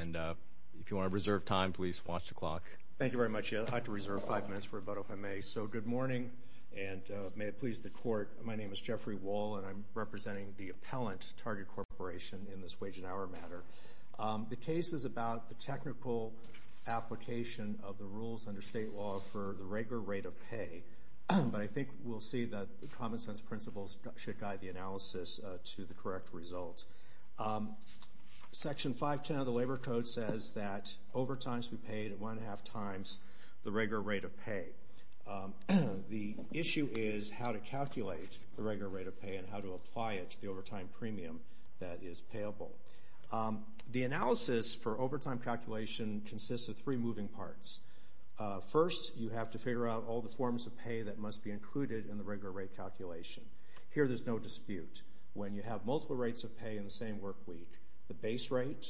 And if you want to reserve time, please watch the clock. Thank you very much. I have to reserve five minutes for a vote if I may. So good morning, and may it please the Court, my name is Jeffrey Wall, and I'm representing the appellant, Target Corporation, in this Wage and Hour matter. The case is about the technical application of the rules under state law for the regular rate of pay, but I think we'll see that the common sense principles should guide the analysis to the correct results. Section 510 of the Labor Code says that overtimes be paid at one-and-a-half times the regular rate of pay. The issue is how to calculate the regular rate of pay and how to apply it to the overtime premium that is payable. The analysis for overtime calculation consists of three moving parts. First, you have to figure out all the forms of pay that must be included in the regular rate calculation. Here there's no dispute. When you have multiple rates of pay in the same work week, the base rate,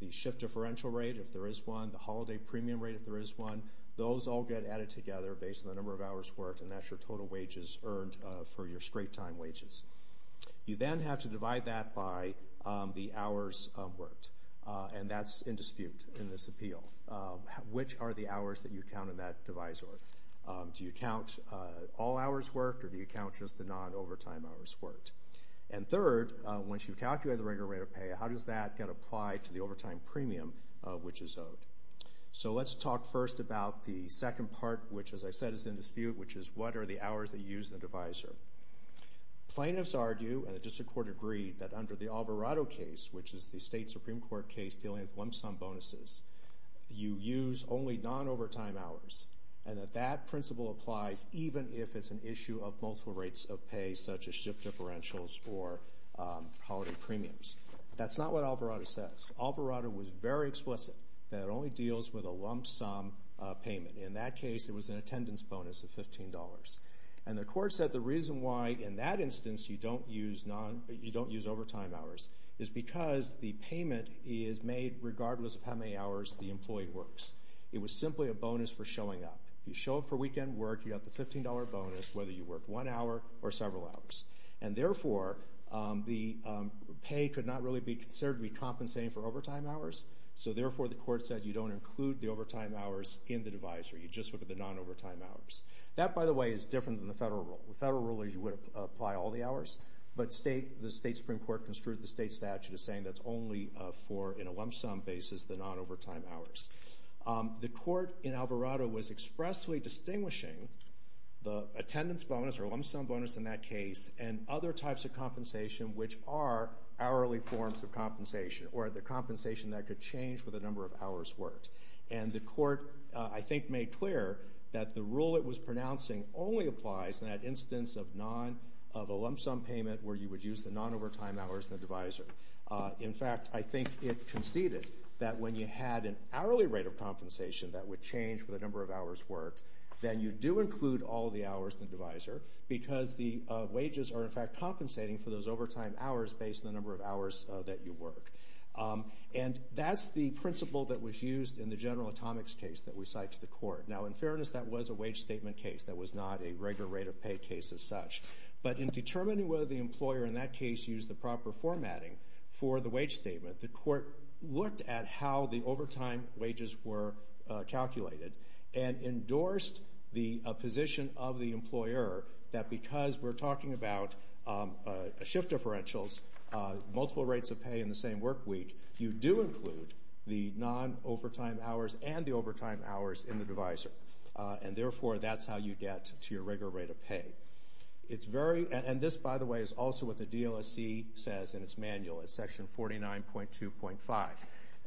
the shift differential rate if there is one, the holiday premium rate if there is one, those all get added together based on the number of hours worked, and that's your total wages earned for your straight-time wages. You then have to divide that by the hours worked, and that's in dispute in this appeal. Which are the hours that you count in that divisor? Do you count all hours worked, or do you count just the non-overtime hours worked? And third, once you've calculated the regular rate of pay, how does that get applied to the overtime premium which is owed? So let's talk first about the second part, which as I said, is in dispute, which is what are the hours that you use in the divisor? Plaintiffs argue, and the district court agreed, that under the Alvarado case, which is the state Supreme Court case dealing with lump sum bonuses, you use only non-overtime hours, and that that principle applies even if it's an issue of multiple rates of pay, such as shift differentials or holiday premiums. That's not what Alvarado says. Alvarado was very explicit that it only deals with a lump sum payment. In that case, it was an attendance bonus of $15. And the court said the reason why, in that instance, you don't use overtime hours is because the payment is made regardless of how many hours the employee works. It was simply a bonus for showing up. You show up for weekend work, you got the $15 bonus, whether you worked one hour or several hours. And therefore, the pay could not really be considered to be compensating for overtime hours. So therefore, the court said you don't include the overtime hours in the divisor, you just look at the non-overtime hours. That, by the way, is different than the federal rule. The federal rule is you would apply all the hours, but the state Supreme Court construed the state statute as saying that's only for, in a lump sum basis, the non-overtime hours. The court in Alvarado was expressly distinguishing the attendance bonus, or lump sum bonus in that case, and other types of compensation, which are hourly forms of compensation, or the compensation that could change for the number of hours worked. And the court, I think, made clear that the rule it was pronouncing only applies in that instance of a lump sum payment where you would use the non-overtime hours in the divisor. In fact, I think it conceded that when you had an hourly rate of compensation that would change for the number of hours worked, then you do include all the hours in the divisor, because the wages are, in fact, compensating for those overtime hours based on the number of hours that you work. And that's the principle that was used in the General Atomics case that we cite to the court. Now, in fairness, that was a wage statement case. That was not a regular rate of pay case as such. But in determining whether the employer in that case used the proper formatting for the wage statement, the court looked at how the overtime wages were calculated and endorsed the position of the employer that because we're talking about shift differentials, multiple rates of pay in the same work week, you do include the non-overtime hours and the overtime hours in the divisor. And therefore, that's how you get to your regular rate of pay. It's very, and this, by the way, is also what the DLSC says in its manual, in section 49.2.5.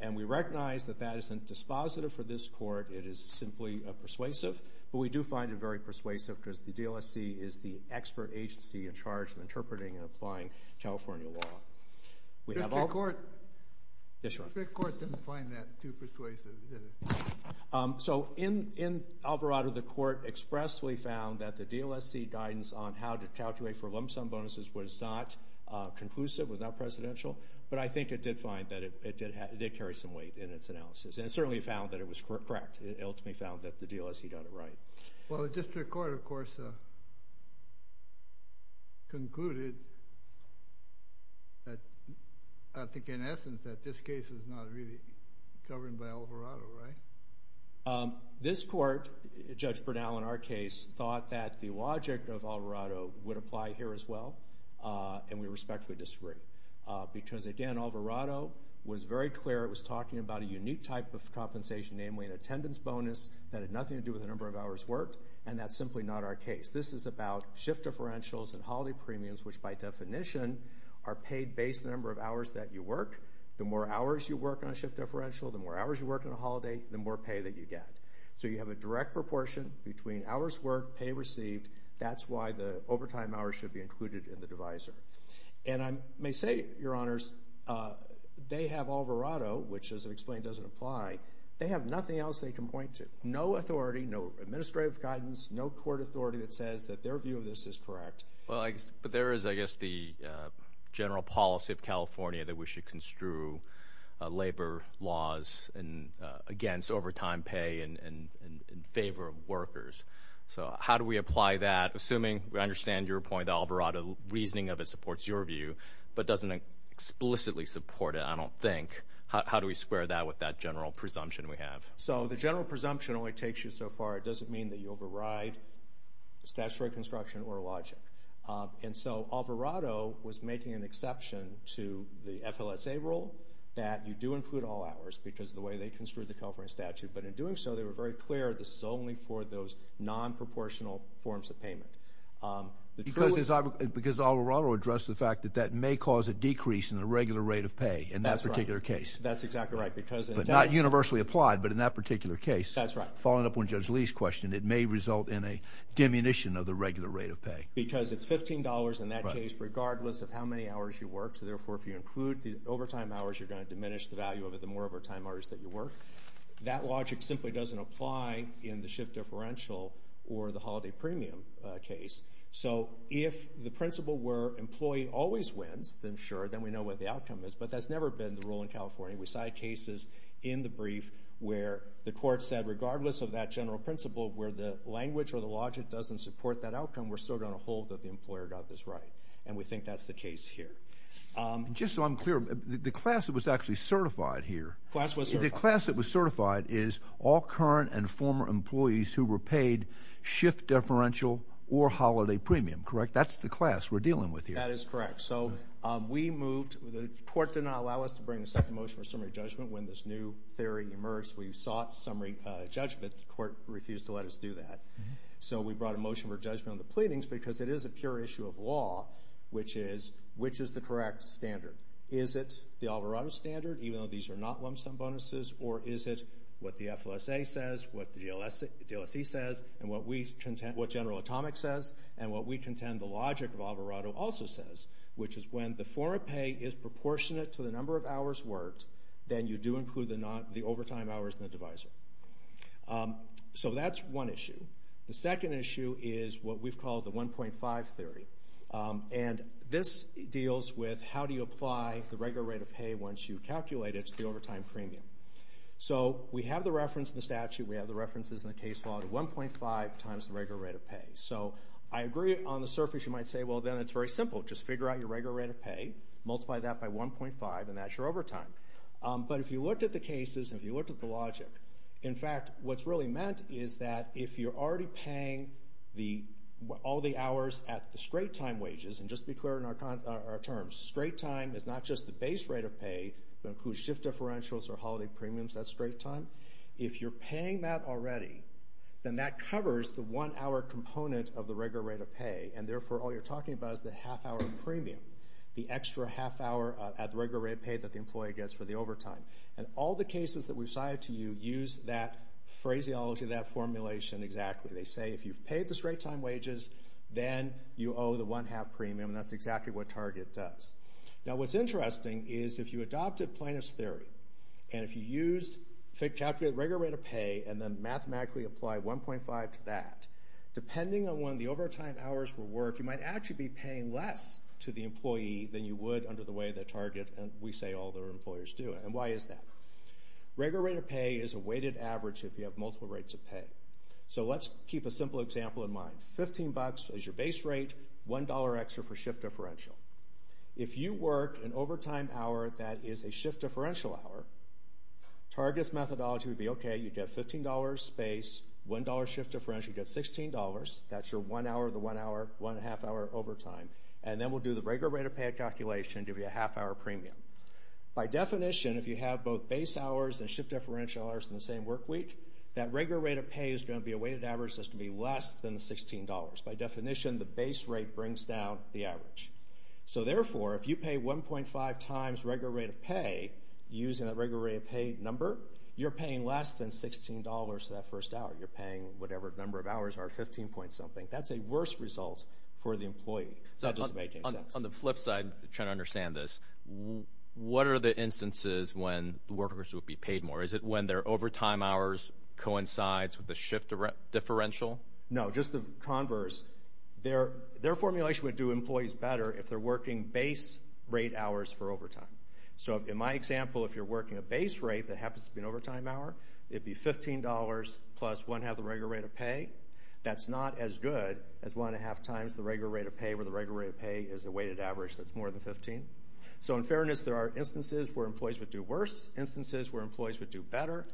And we recognize that that isn't dispositive for this court. It is simply persuasive. But we do find it very persuasive because the DLSC is the expert agency in charge of interpreting and applying California law. We have all. The court. Yes, sir. The court didn't find that too persuasive, did it? So in Alvarado, the court expressly found that the DLSC guidance on how to calculate for lump sum bonuses was not conclusive, was not presidential. But I think it did find that it did carry some weight in its analysis. And it certainly found that it was correct. It ultimately found that the DLSC got it right. Well, the district court, of course, concluded that, I think in essence, that this case is not really governed by Alvarado, right? This court, Judge Bernal in our case, thought that the logic of Alvarado would apply here as well, and we respectfully disagree. Because again, Alvarado was very clear. It was talking about a unique type of compensation, namely an attendance bonus that had nothing to do with the number of hours worked. And that's simply not our case. This is about shift differentials and holiday premiums, which by definition, are paid based on the number of hours that you work. The more hours you work on a shift differential, the more hours you work on a holiday, the more pay that you get. So you have a direct proportion between hours worked, pay received, that's why the overtime hours should be included in the divisor. And I may say, Your Honors, they have Alvarado, which as I've explained, doesn't apply. They have nothing else they can point to. No authority, no administrative guidance, no court authority that says that their view of this is correct. Well, but there is, I guess, the general policy of California that we should construe labor laws against overtime pay and in favor of workers. So how do we apply that? Assuming we understand your point, Alvarado, reasoning of it supports your view, but doesn't explicitly support it, I don't think. How do we square that with that general presumption we have? So the general presumption only takes you so far. It doesn't mean that you override statutory construction or logic. And so Alvarado was making an exception to the FLSA rule that you do include all hours because of the way they construed the California statute. But in doing so, they were very clear this is only for those non-proportional forms of payment. Because Alvarado addressed the fact that that may cause a decrease in the regular rate of pay in that particular case. That's exactly right. But not universally applied, but in that particular case. That's right. Following up on Judge Lee's question, it may result in a diminution of the regular rate of pay. Because it's $15 in that case regardless of how many hours you work. So therefore, if you include the overtime hours, you're going to diminish the value of it the more overtime hours that you work. That logic simply doesn't apply in the shift differential or the holiday premium case. So if the principle were employee always wins, then sure, then we know what the outcome is. But that's never been the rule in California. We cite cases in the brief where the court said regardless of that general principle where the language or the logic doesn't support that outcome, we're still going to hold that the employer got this right. And we think that's the case here. Just so I'm clear, the class that was actually certified here. The class that was certified is all current and former employees who were paid shift differential or holiday premium, correct? That's the class we're dealing with here. That is correct. So we moved, the court did not allow us to bring a second motion for summary judgment when this new theory emerged. We sought summary judgment. The court refused to let us do that. So we brought a motion for judgment on the pleadings because it is a pure issue of law, which is which is the correct standard? Is it the Alvarado standard even though these are not lump sum bonuses or is it what the FLSA says, what the DLSE says and what we contend, what General Atomic says and what we contend the logic of Alvarado also says. Which is when the form of pay is proportionate to the number of hours worked, then you do include the overtime hours in the divisor. So that's one issue. The second issue is what we've called the 1.5 theory. And this deals with how do you apply the regular rate of pay once you calculate it to the overtime premium. So we have the reference in the statute. We have the references in the case law to 1.5 times the regular rate of pay. So I agree on the surface you might say, well, then it's very simple. Just figure out your regular rate of pay. Multiply that by 1.5 and that's your overtime. But if you looked at the cases and if you looked at the logic, in fact, what's really meant is that if you're already paying all the hours at the straight time wages, and just to be clear in our terms, straight time is not just the base rate of pay that includes shift differentials or holiday premiums, that's straight time. If you're paying that already, then that covers the one hour component of the regular rate of pay. And therefore, all you're talking about is the half hour premium, the extra half hour at the regular rate of pay that the employee gets for the overtime. And all the cases that we've cited to you use that phraseology, that formulation exactly. They say if you've paid the straight time wages, then you owe the one half premium. And that's exactly what Target does. Now what's interesting is if you adopted Plaintiff's Theory and if you use, calculate the regular rate of pay and then mathematically apply 1.5 to that, depending on when the overtime hours were worked, you might actually be paying less to the employee than you would under the way that Target, and we say all their employers do. And why is that? Regular rate of pay is a weighted average if you have multiple rates of pay. So let's keep a simple example in mind. Fifteen bucks is your base rate, one dollar extra for shift differential. If you work an overtime hour that is a shift differential hour, Target's methodology would be, okay, you get fifteen dollars, space, one dollar shift differential, you get sixteen dollars, that's your one hour, the one hour, one half hour overtime, and then we'll do the regular rate of pay calculation to be a half hour premium. By definition, if you have both base hours and shift differential hours in the same work week, that regular rate of pay is going to be a weighted average that's going to be less than sixteen dollars. By definition, the base rate brings down the average. So therefore, if you pay 1.5 times regular rate of pay using that regular rate of pay number, you're paying less than sixteen dollars for that first hour. You're paying whatever number of hours are fifteen point something. That's a worse result for the employee. So that doesn't make any sense. On the flip side, trying to understand this, what are the instances when workers would be paid more? Is it when their overtime hours coincides with the shift differential? No, just the converse. Their formulation would do employees better if they're working base rate hours for overtime. So in my example, if you're working a base rate that happens to be an overtime hour, it'd be fifteen dollars plus one-half the regular rate of pay. That's not as good as one-half times the regular rate of pay where the regular rate of pay is a weighted average that's more than fifteen. So in fairness, there are instances where employees would do worse, instances where employees would do better.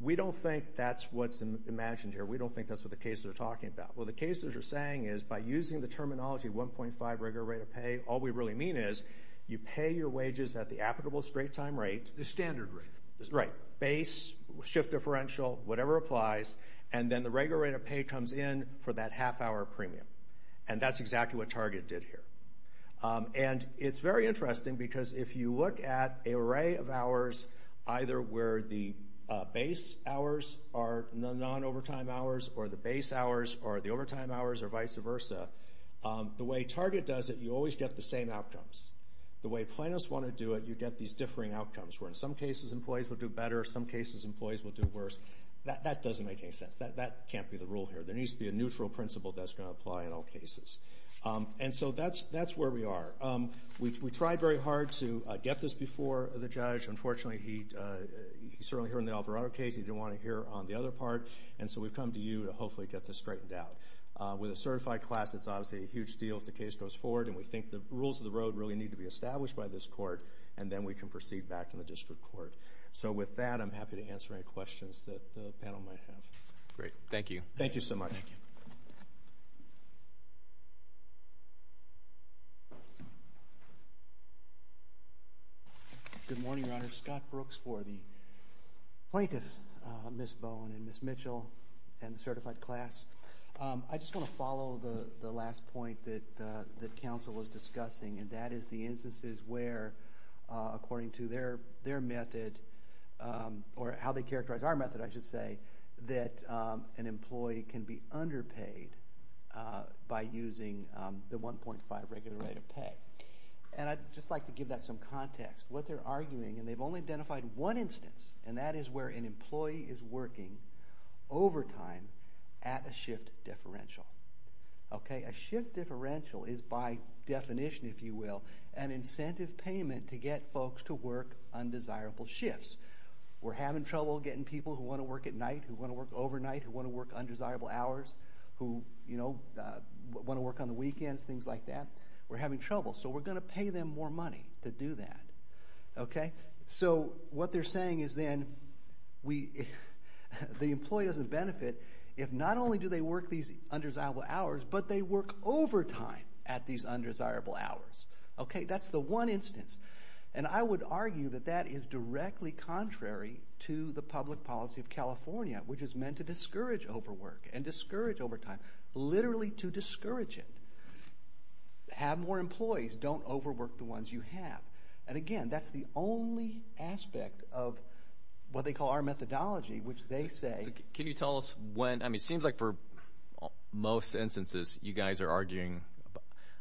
We don't think that's what's imagined here. We don't think that's what the cases are talking about. Well, the cases are saying is by using the terminology 1.5 regular rate of pay, all we really mean is you pay your wages at the applicable straight-time rate. The standard rate. Right. Base, shift differential, whatever applies, and then the regular rate of pay comes in for that half-hour premium. And that's exactly what Target did here. And it's very interesting because if you look at an array of hours, either where the base hours are the non-overtime hours or the base hours are the overtime hours or vice versa, the way Target does it, you always get the same outcomes. The way Plaintiffs want to do it, you get these differing outcomes, where in some cases, employees would do better. In some cases, employees would do worse. That doesn't make any sense. That can't be the rule here. There needs to be a neutral principle that's going to apply in all cases. And so that's where we are. We tried very hard to get this before the judge. Unfortunately, he certainly heard in the Alvarado case. He didn't want to hear on the other part. And so we've come to you to hopefully get this straightened out. With a certified class, it's obviously a huge deal if the case goes forward. And we think the rules of the road really need to be established by this court. And then we can proceed back to the district court. So with that, I'm happy to answer any questions that the panel might have. Great. Thank you. Thank you so much. Good morning, Your Honor. Scott Brooks for the Plaintiff, Ms. Bowen and Ms. Mitchell and the certified class. I just want to follow the last point that counsel was discussing. And that is the instances where, according to their method, or how they characterize our method, I should say, that an employee can be underpaid by using the 1.5 regular rate of pay. And I'd just like to give that some context. What they're arguing, and they've only identified one instance, and that is where an employee is working overtime at a shift differential. Okay? A shift differential is by definition, if you will, an incentive payment to get folks to work undesirable shifts. We're having trouble getting people who want to work at night, who want to work overnight, who want to work undesirable hours, who, you know, want to work on the weekends, things like that. We're having trouble. So we're going to pay them more money to do that. Okay? So what they're saying is then, we, the employee doesn't benefit if not only do they work these undesirable hours, but they work overtime at these undesirable hours. Okay? That's the one instance. And I would argue that that is directly contrary to the public policy of California, which is meant to discourage overwork and discourage overtime. Literally to discourage it. Have more employees. Don't overwork the ones you have. And again, that's the only aspect of what they call our methodology, which they say. So can you tell us when, I mean, it seems like for most instances, you guys are arguing,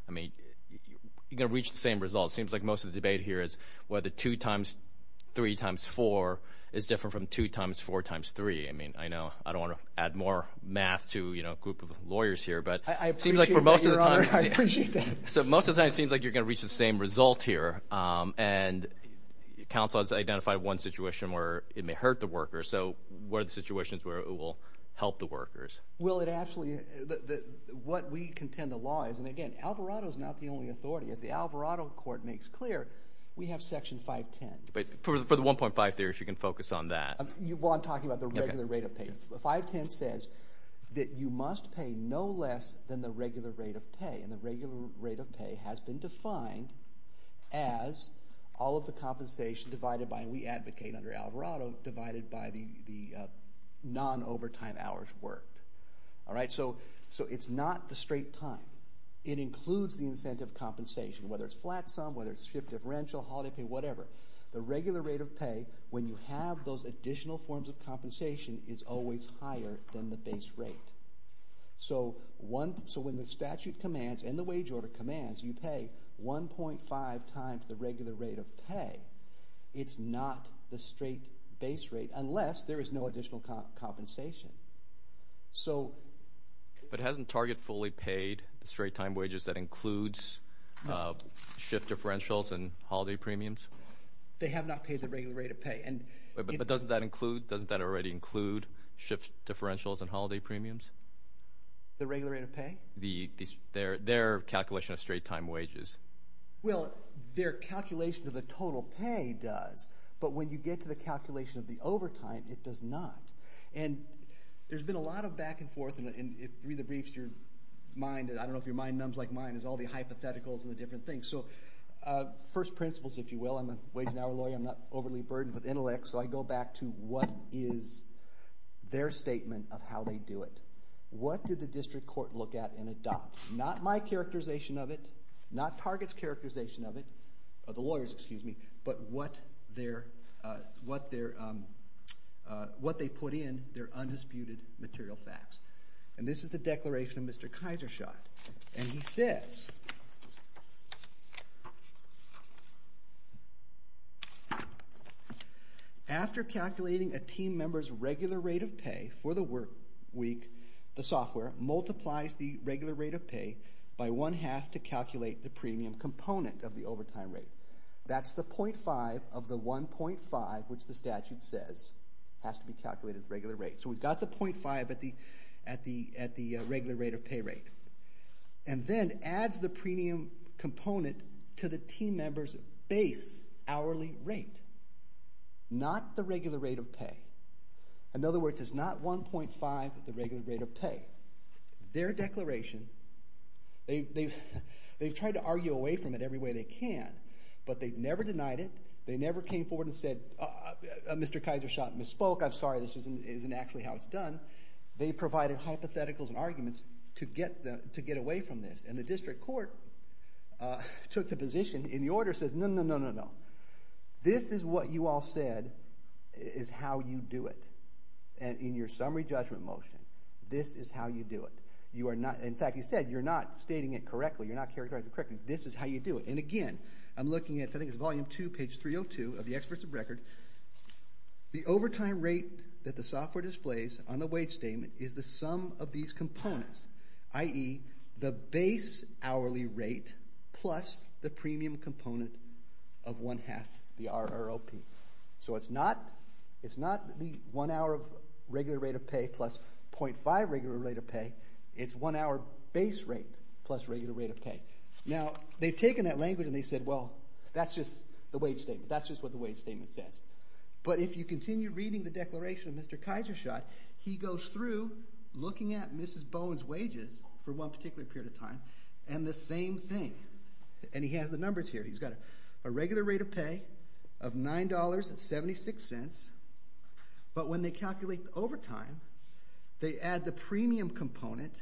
I mean, you're going to reach the same results. It seems like most of the debate here is whether 2 times, 3 times 4 is different from 2 times 4 times 3. I mean, I know, I don't want to add more math to, you know, a group of lawyers here. But it seems like for most of the time. So most of the time, it seems like you're going to reach the same result here. And counsel has identified one situation where it may hurt the worker. So what are the situations where it will help the workers? Well, it actually, what we contend the law is, and again, Alvarado is not the only authority. As the Alvarado Court makes clear, we have Section 510. But for the 1.5 there, you can focus on that. Well, I'm talking about the regular rate of pay. The 510 says that you must pay no less than the regular rate of pay. And the regular rate of pay has been defined as all of the compensation divided by, and we advocate under Alvarado, divided by the non-overtime hours worked. All right? So it's not the straight time. It includes the incentive compensation, whether it's flat sum, whether it's shift differential, holiday pay, whatever. The regular rate of pay, when you have those additional forms of compensation, is always higher than the base rate. So when the statute commands, and the wage order commands, you pay 1.5 times the regular rate of pay. It's not the straight base rate, unless there is no additional compensation. So. But hasn't Target fully paid the straight time wages that includes shift differentials and holiday premiums? They have not paid the regular rate of pay. And. But doesn't that include, doesn't that already include shift differentials and holiday premiums? The regular rate of pay? Their calculation of straight time wages. Well, their calculation of the total pay does. But when you get to the calculation of the overtime, it does not. And there's been a lot of back and forth, and if you read the briefs, your mind, I don't know if your mind numbs like mine, is all the hypotheticals and the different things. So first principles, if you will. I'm a wage and hour lawyer. I'm not overly burdened with intellect. So I go back to what is their statement of how they do it. What did the district court look at and adopt? Not my characterization of it, not Target's characterization of it, of the lawyers, excuse me. But what their, what their, what they put in their undisputed material facts. And this is the declaration of Mr. Kysershot. And he says. After calculating a team member's regular rate of pay for the work week, the software multiplies the regular rate of pay by one half to calculate the premium component of the overtime rate. That's the .5 of the 1.5, which the statute says has to be calculated at the regular rate. So we've got the .5 at the, at the, at the regular rate of pay rate. And then adds the premium component to the team member's base hourly rate. Not the regular rate of pay. In other words, it's not 1.5, the regular rate of pay. Their declaration, they've, they've, they've tried to argue away from it every way they can. But they've never denied it. They never came forward and said, Mr. Kysershot misspoke. I'm sorry, this isn't, isn't actually how it's done. They provided hypotheticals and arguments to get the, to get away from this. And the district court took the position and the order says, no, no, no, no, no. This is what you all said is how you do it. And in your summary judgment motion, this is how you do it. You are not, in fact, you said you're not stating it correctly. You're not characterizing it correctly. This is how you do it. And again, I'm looking at, I think it's volume two, page 302 of the experts of record. The overtime rate that the software displays on the wage statement is the sum of these components, i.e. the base hourly rate plus the premium component of one half, the RROP. So it's not, it's not the one hour of regular rate of pay plus .5 regular rate of pay. It's one hour base rate plus regular rate of pay. Now, they've taken that language and they said, well, that's just the wage statement. That's just what the wage statement says. But if you continue reading the declaration of Mr. Kysershot, he goes through looking at Mrs. Bowen's wages for one particular period of time and the same thing. And he has the numbers here. He's got a regular rate of pay of $9.76. But when they calculate the overtime, they add the premium component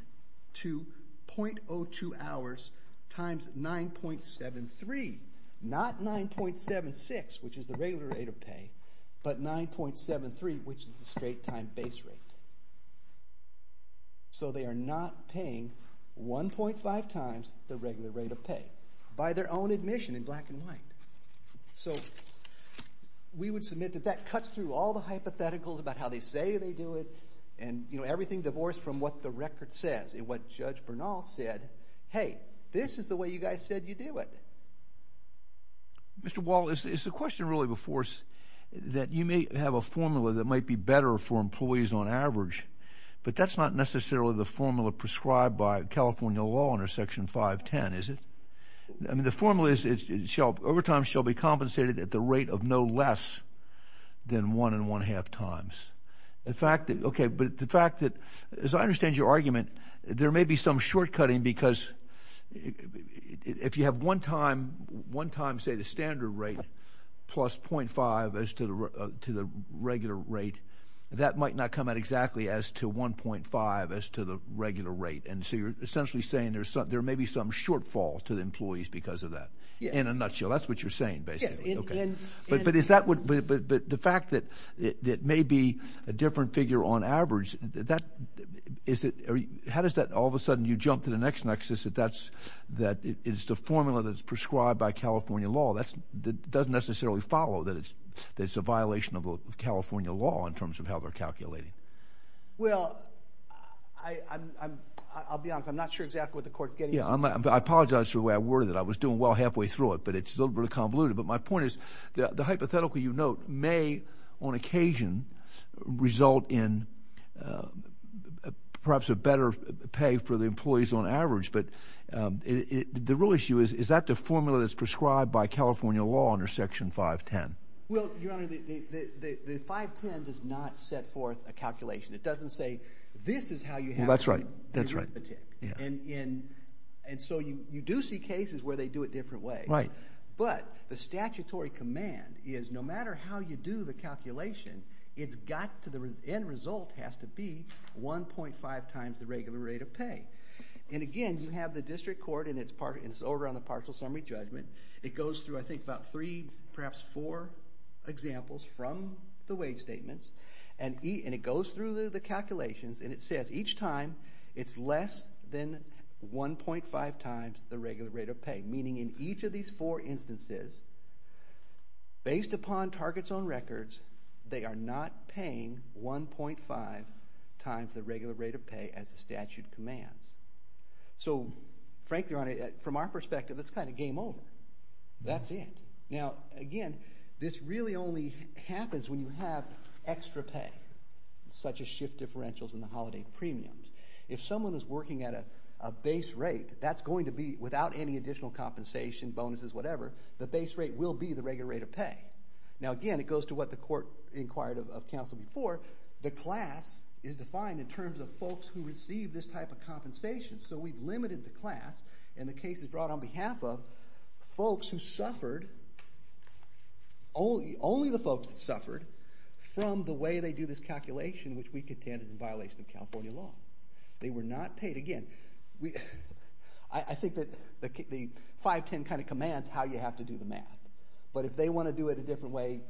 to .02 hours times 9.73. Not 9.76, which is the regular rate of pay, but 9.73, which is the straight time base rate. So they are not paying 1.5 times the regular rate of pay by their own admission in black and white. So we would submit that that cuts through all the hypotheticals about how they say they do it. And, you know, everything divorced from what the record says. And what Judge Bernal said, hey, this is the way you guys said you do it. Mr. Wall, is the question really before us that you may have a formula that might be better for employees on average, but that's not necessarily the formula prescribed by California law under Section 510, is it? I mean, the formula is overtime shall be compensated at the rate of no less than one and one-half times. The fact that, okay, but the fact that, as I understand your argument, there may be some short-cutting because if you have one time say the standard rate plus .5 as to the regular rate, that might not come out exactly as to 1.5 as to the regular rate. And so you're essentially saying there may be some shortfall to the employees because of that. In a nutshell, that's what you're saying basically. But the fact that it may be a different figure on average, how does that all of a sudden you jump to the next nexus that it's the formula that's prescribed by California law that doesn't necessarily follow that it's a violation of California law in terms of how they're calculating? Well, I'll be honest, I'm not sure exactly what the court's getting at. I apologize for the way I worded it. I was doing well halfway through it, but it's a little bit convoluted. But my point is the hypothetical you note may on occasion result in perhaps a better pay for the employees on average, but the real issue is, is that the formula that's prescribed by California law under Section 510? Well, Your Honor, the 510 does not set forth a calculation. It doesn't say this is how you have to do it. Well, that's right, that's right. And so you do see cases where they do it different ways. Right. But the statutory command is no matter how you do the calculation, it's got to the end result has to be 1.5 times the regular rate of pay. And again, you have the district court and it's part, it's over on the partial summary judgment. It goes through I think about three, perhaps four examples from the wage statements. And it goes through the calculations and it says each time it's less than 1.5 times the regular rate of pay. Meaning in each of these four instances based upon targets on records, they are not paying 1.5 times the regular rate of pay as the statute commands. So frankly, Your Honor, from our perspective, it's kind of game over. That's it. Now again, this really only happens when you have extra pay, such as shift differentials in the holiday premiums. If someone is working at a base rate, that's going to be without any additional compensation, bonuses, whatever, the base rate will be the regular rate of pay. Now again, it goes to what the court inquired of counsel before. The class is defined in terms of folks who receive this type of compensation. So we've limited the class and the case is brought on behalf of folks who suffered, only the folks that suffered from the way they do this calculation, which we contend is in violation of California law. They were not paid. Again, I think that the 510 kind of commands how you have to do the math. But if they want to do it a different way,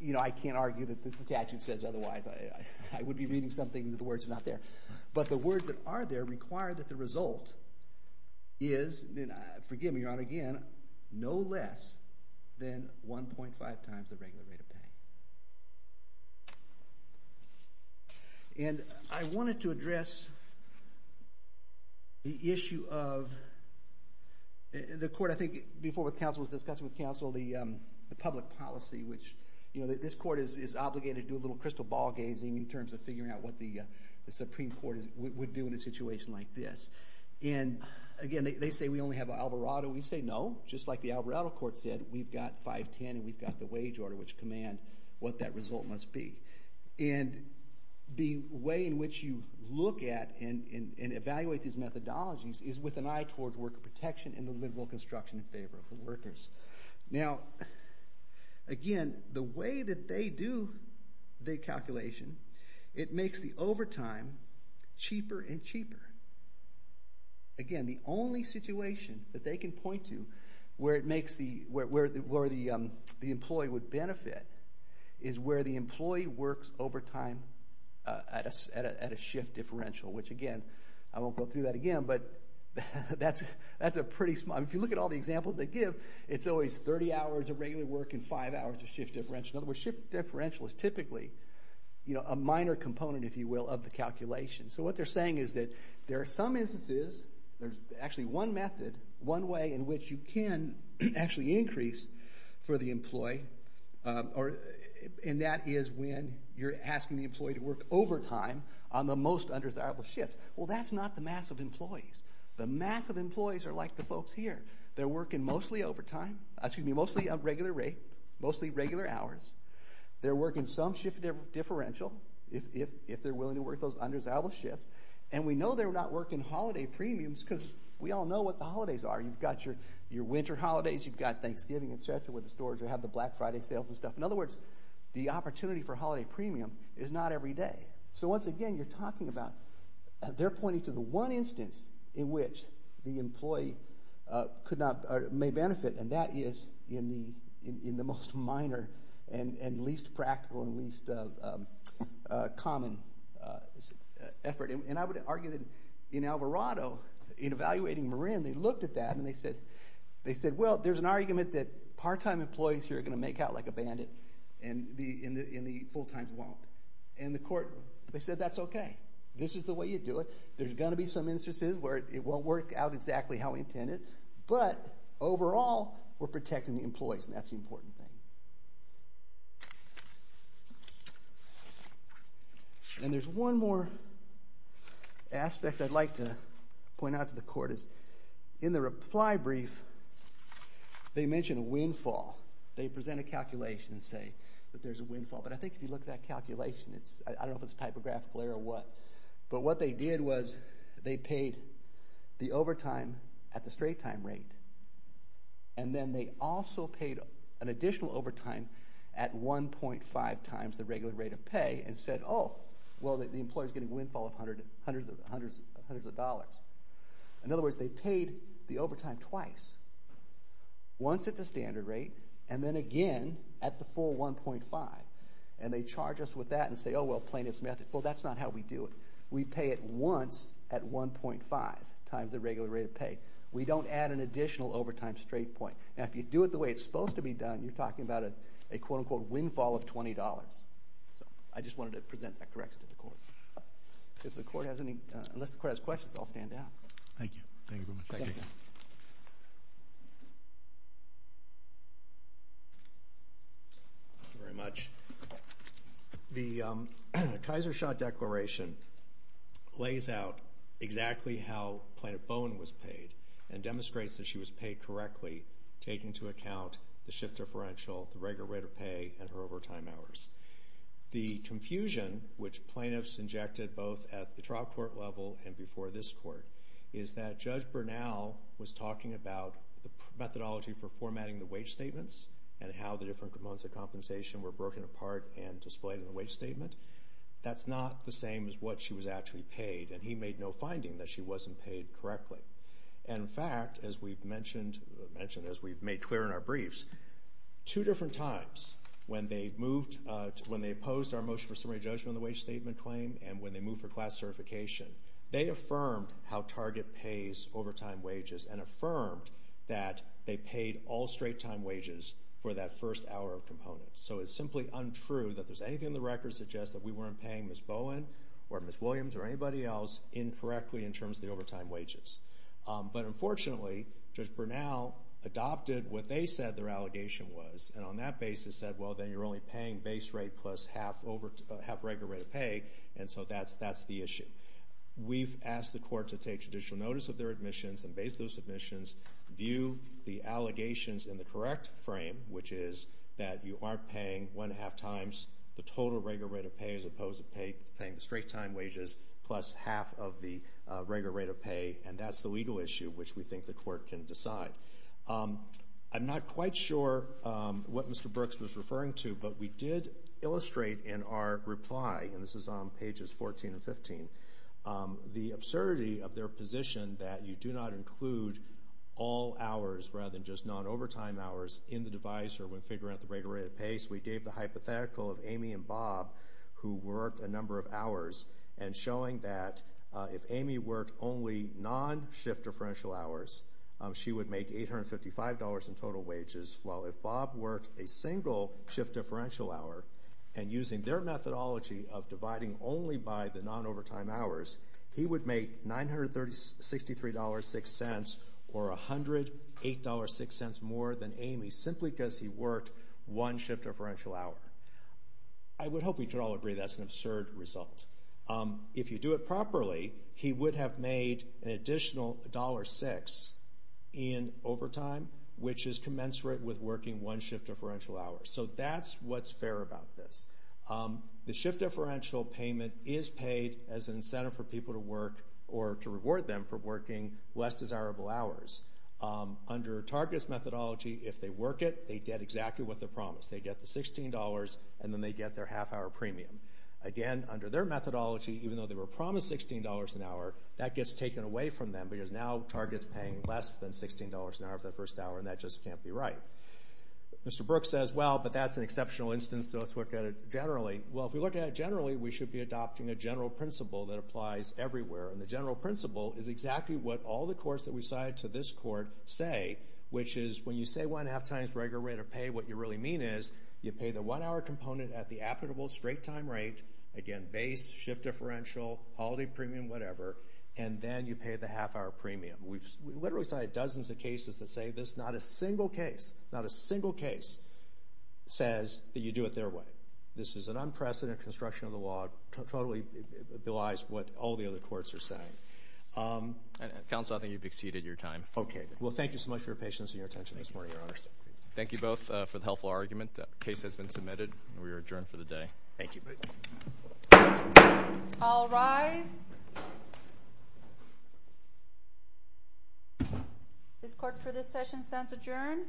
you know, I can't argue that the statute says otherwise. I would be reading something that the words are not there. But the words that are there require that the result is, and forgive me, Your Honor, again, no less than 1.5 times the regular rate of pay. And I wanted to address the issue of, the court, I think before with counsel was discussing with counsel the public policy, which, you know, that this court is obligated to do a little crystal ball gazing in terms of figuring out what the Supreme Court would do in a situation like this. And again, they say we only have Alvarado. We say no, just like the Alvarado court said, we've got 510 and we've got the wage order, which command what that result must be. And the way in which you look at and evaluate these methodologies is with an eye towards worker protection and the liberal construction in favor of the workers. Now, again, the way that they do the calculation, it makes the overtime cheaper and cheaper. Again, the only situation that they can point to where the employee would benefit is where the employee works overtime at a shift differential, which, again, I won't go through that again, but that's a pretty small, if you look at all the examples they give, it's always 30 hours of regular work and 5 hours of shift differential. In other words, shift differential is typically, you know, a minor component, if you will, of the calculation. So, what they're saying is that there are some instances, there's actually one method, one way in which you can actually increase for the employee, and that is when you're asking the employee to work overtime on the most undesirable shifts. Well, that's not the mass of employees. The mass of employees are like the folks here. They're working mostly overtime, excuse me, mostly regular rate, mostly regular hours. They're working some shift differential, if they're willing to work those undesirable shifts, and we know they're not working holiday premiums because we all know what the holidays are. You've got your winter holidays. You've got Thanksgiving, et cetera, with the stores that have the Black Friday sales and stuff. In other words, the opportunity for holiday premium is not every day. So, once again, you're talking about, they're pointing to the one instance in which the employee could not, or may benefit, and that is in the most minor and least practical and least common effort. And I would argue that in Alvarado, in evaluating Marin, they looked at that, and they said, well, there's an argument that part-time employees here are going to make out like a bandit, and the full-times won't. And the court, they said, that's okay. This is the way you do it. There's going to be some instances where it won't work out exactly how we intended, but overall we're protecting the employees, and that's the important thing. And there's one more aspect I'd like to point out to the court, is in the reply brief, they mention a windfall. They present a calculation and say that there's a windfall, but I think if you look at that calculation, it's, I don't know if it's a typographical error or what, but what they did was they paid the overtime at the straight-time rate, and then they also paid an additional overtime at 1.5 times the regular rate of pay, and said, oh, well the employer's getting windfall of hundreds of dollars. In other words, they paid the overtime twice, once at the standard rate, and then again at the full 1.5, and they charge us with that and say, oh, well, plaintiff's method. Well, that's not how we do it. We pay it once at 1.5 times the regular rate of pay. We don't add an additional overtime straight point. Now, if you do it the way it's supposed to be done, you're talking about a, quote, unquote, windfall of $20. So I just wanted to present that correctness to the court. If the court has any, unless the court has questions, I'll stand down. Thank you. Thank you very much. Thank you. Thank you very much. The Kaiser Shaw Declaration lays out exactly how Plaintiff Bowen was paid. And demonstrates that she was paid correctly, taking into account the shift differential, the regular rate of pay, and her overtime hours. The confusion which plaintiffs injected both at the trial court level and before this court is that Judge Bernal was talking about the methodology for formatting the wage statements and how the different components of compensation were broken apart and displayed in the wage statement. That's not the same as what she was actually paid, and he made no finding that she wasn't paid correctly. And in fact, as we've mentioned, as we've made clear in our briefs, two different times when they moved, when they opposed our motion for summary judgment on the wage statement claim and when they moved for class certification, they affirmed how Target pays overtime wages and affirmed that they paid all straight-time wages for that first hour of components. So it's simply untrue that if there's anything in the record that suggests that we weren't paying Ms. Bowen or Ms. Williams or anybody else incorrectly in terms of the overtime wages. But unfortunately, Judge Bernal adopted what they said their allegation was, and on that basis said, well, then you're only paying base rate plus half regular rate of pay, and so that's the issue. We've asked the court to take judicial notice of their admissions and base those admissions, view the allegations in the correct frame, which is that you are paying one-half times the total regular rate of pay as opposed to paying the straight-time wages plus half of the regular rate of pay, and that's the legal issue which we think the court can decide. I'm not quite sure what Mr. Brooks was referring to, but we did illustrate in our reply, and this is on pages 14 and 15, the absurdity of their position that you do not include all hours rather than just non-overtime hours in the device or when figuring out the regular rate of pay. So we gave the hypothetical of Amy and Bob, who worked a number of hours, and showing that if Amy worked only non-shift differential hours, she would make $855 in total wages, while if Bob worked a single shift differential hour, and using their methodology of dividing only by the non-overtime hours, he would make $963.06 or $108.06 more than Amy, simply because he worked one shift differential hour. I would hope we could all agree that's an absurd result. If you do it properly, he would have made an additional $1.06 in overtime, which is commensurate with working one shift differential hour. So that's what's fair about this. The shift differential payment is paid as an incentive for people to work, or to reward them for working less desirable hours. Under Target's methodology, if they work it, they get exactly what they're promised. They get the $16, and then they get their half-hour premium. Again, under their methodology, even though they were promised $16 an hour, that gets taken away from them, because now Target's paying less than $16 an hour for the first hour, and that just can't be right. Mr. Brooks says, well, but that's an exceptional instance, so let's look at it generally. Well, if we look at it generally, we should be adopting a general principle that applies everywhere. And the general principle is exactly what all the courts that we've cited to this court say, which is, when you say one-half times regular rate of pay, what you really mean is, you pay the one-hour component at the applicable straight-time rate, again, base, shift differential, holiday premium, whatever, and then you pay the half-hour premium. We've literally cited dozens of cases that say this. Not a single case, not a single case, says that you do it their way. This is an unprecedented construction of the law. Totally belies what all the other courts are saying. And, Counsel, I think you've exceeded your time. Okay. Well, thank you so much for your patience and your attention this morning, Your Honors. Thank you both for the helpful argument. The case has been submitted. We are adjourned for the day. Thank you. All rise. This court for this session stands adjourned.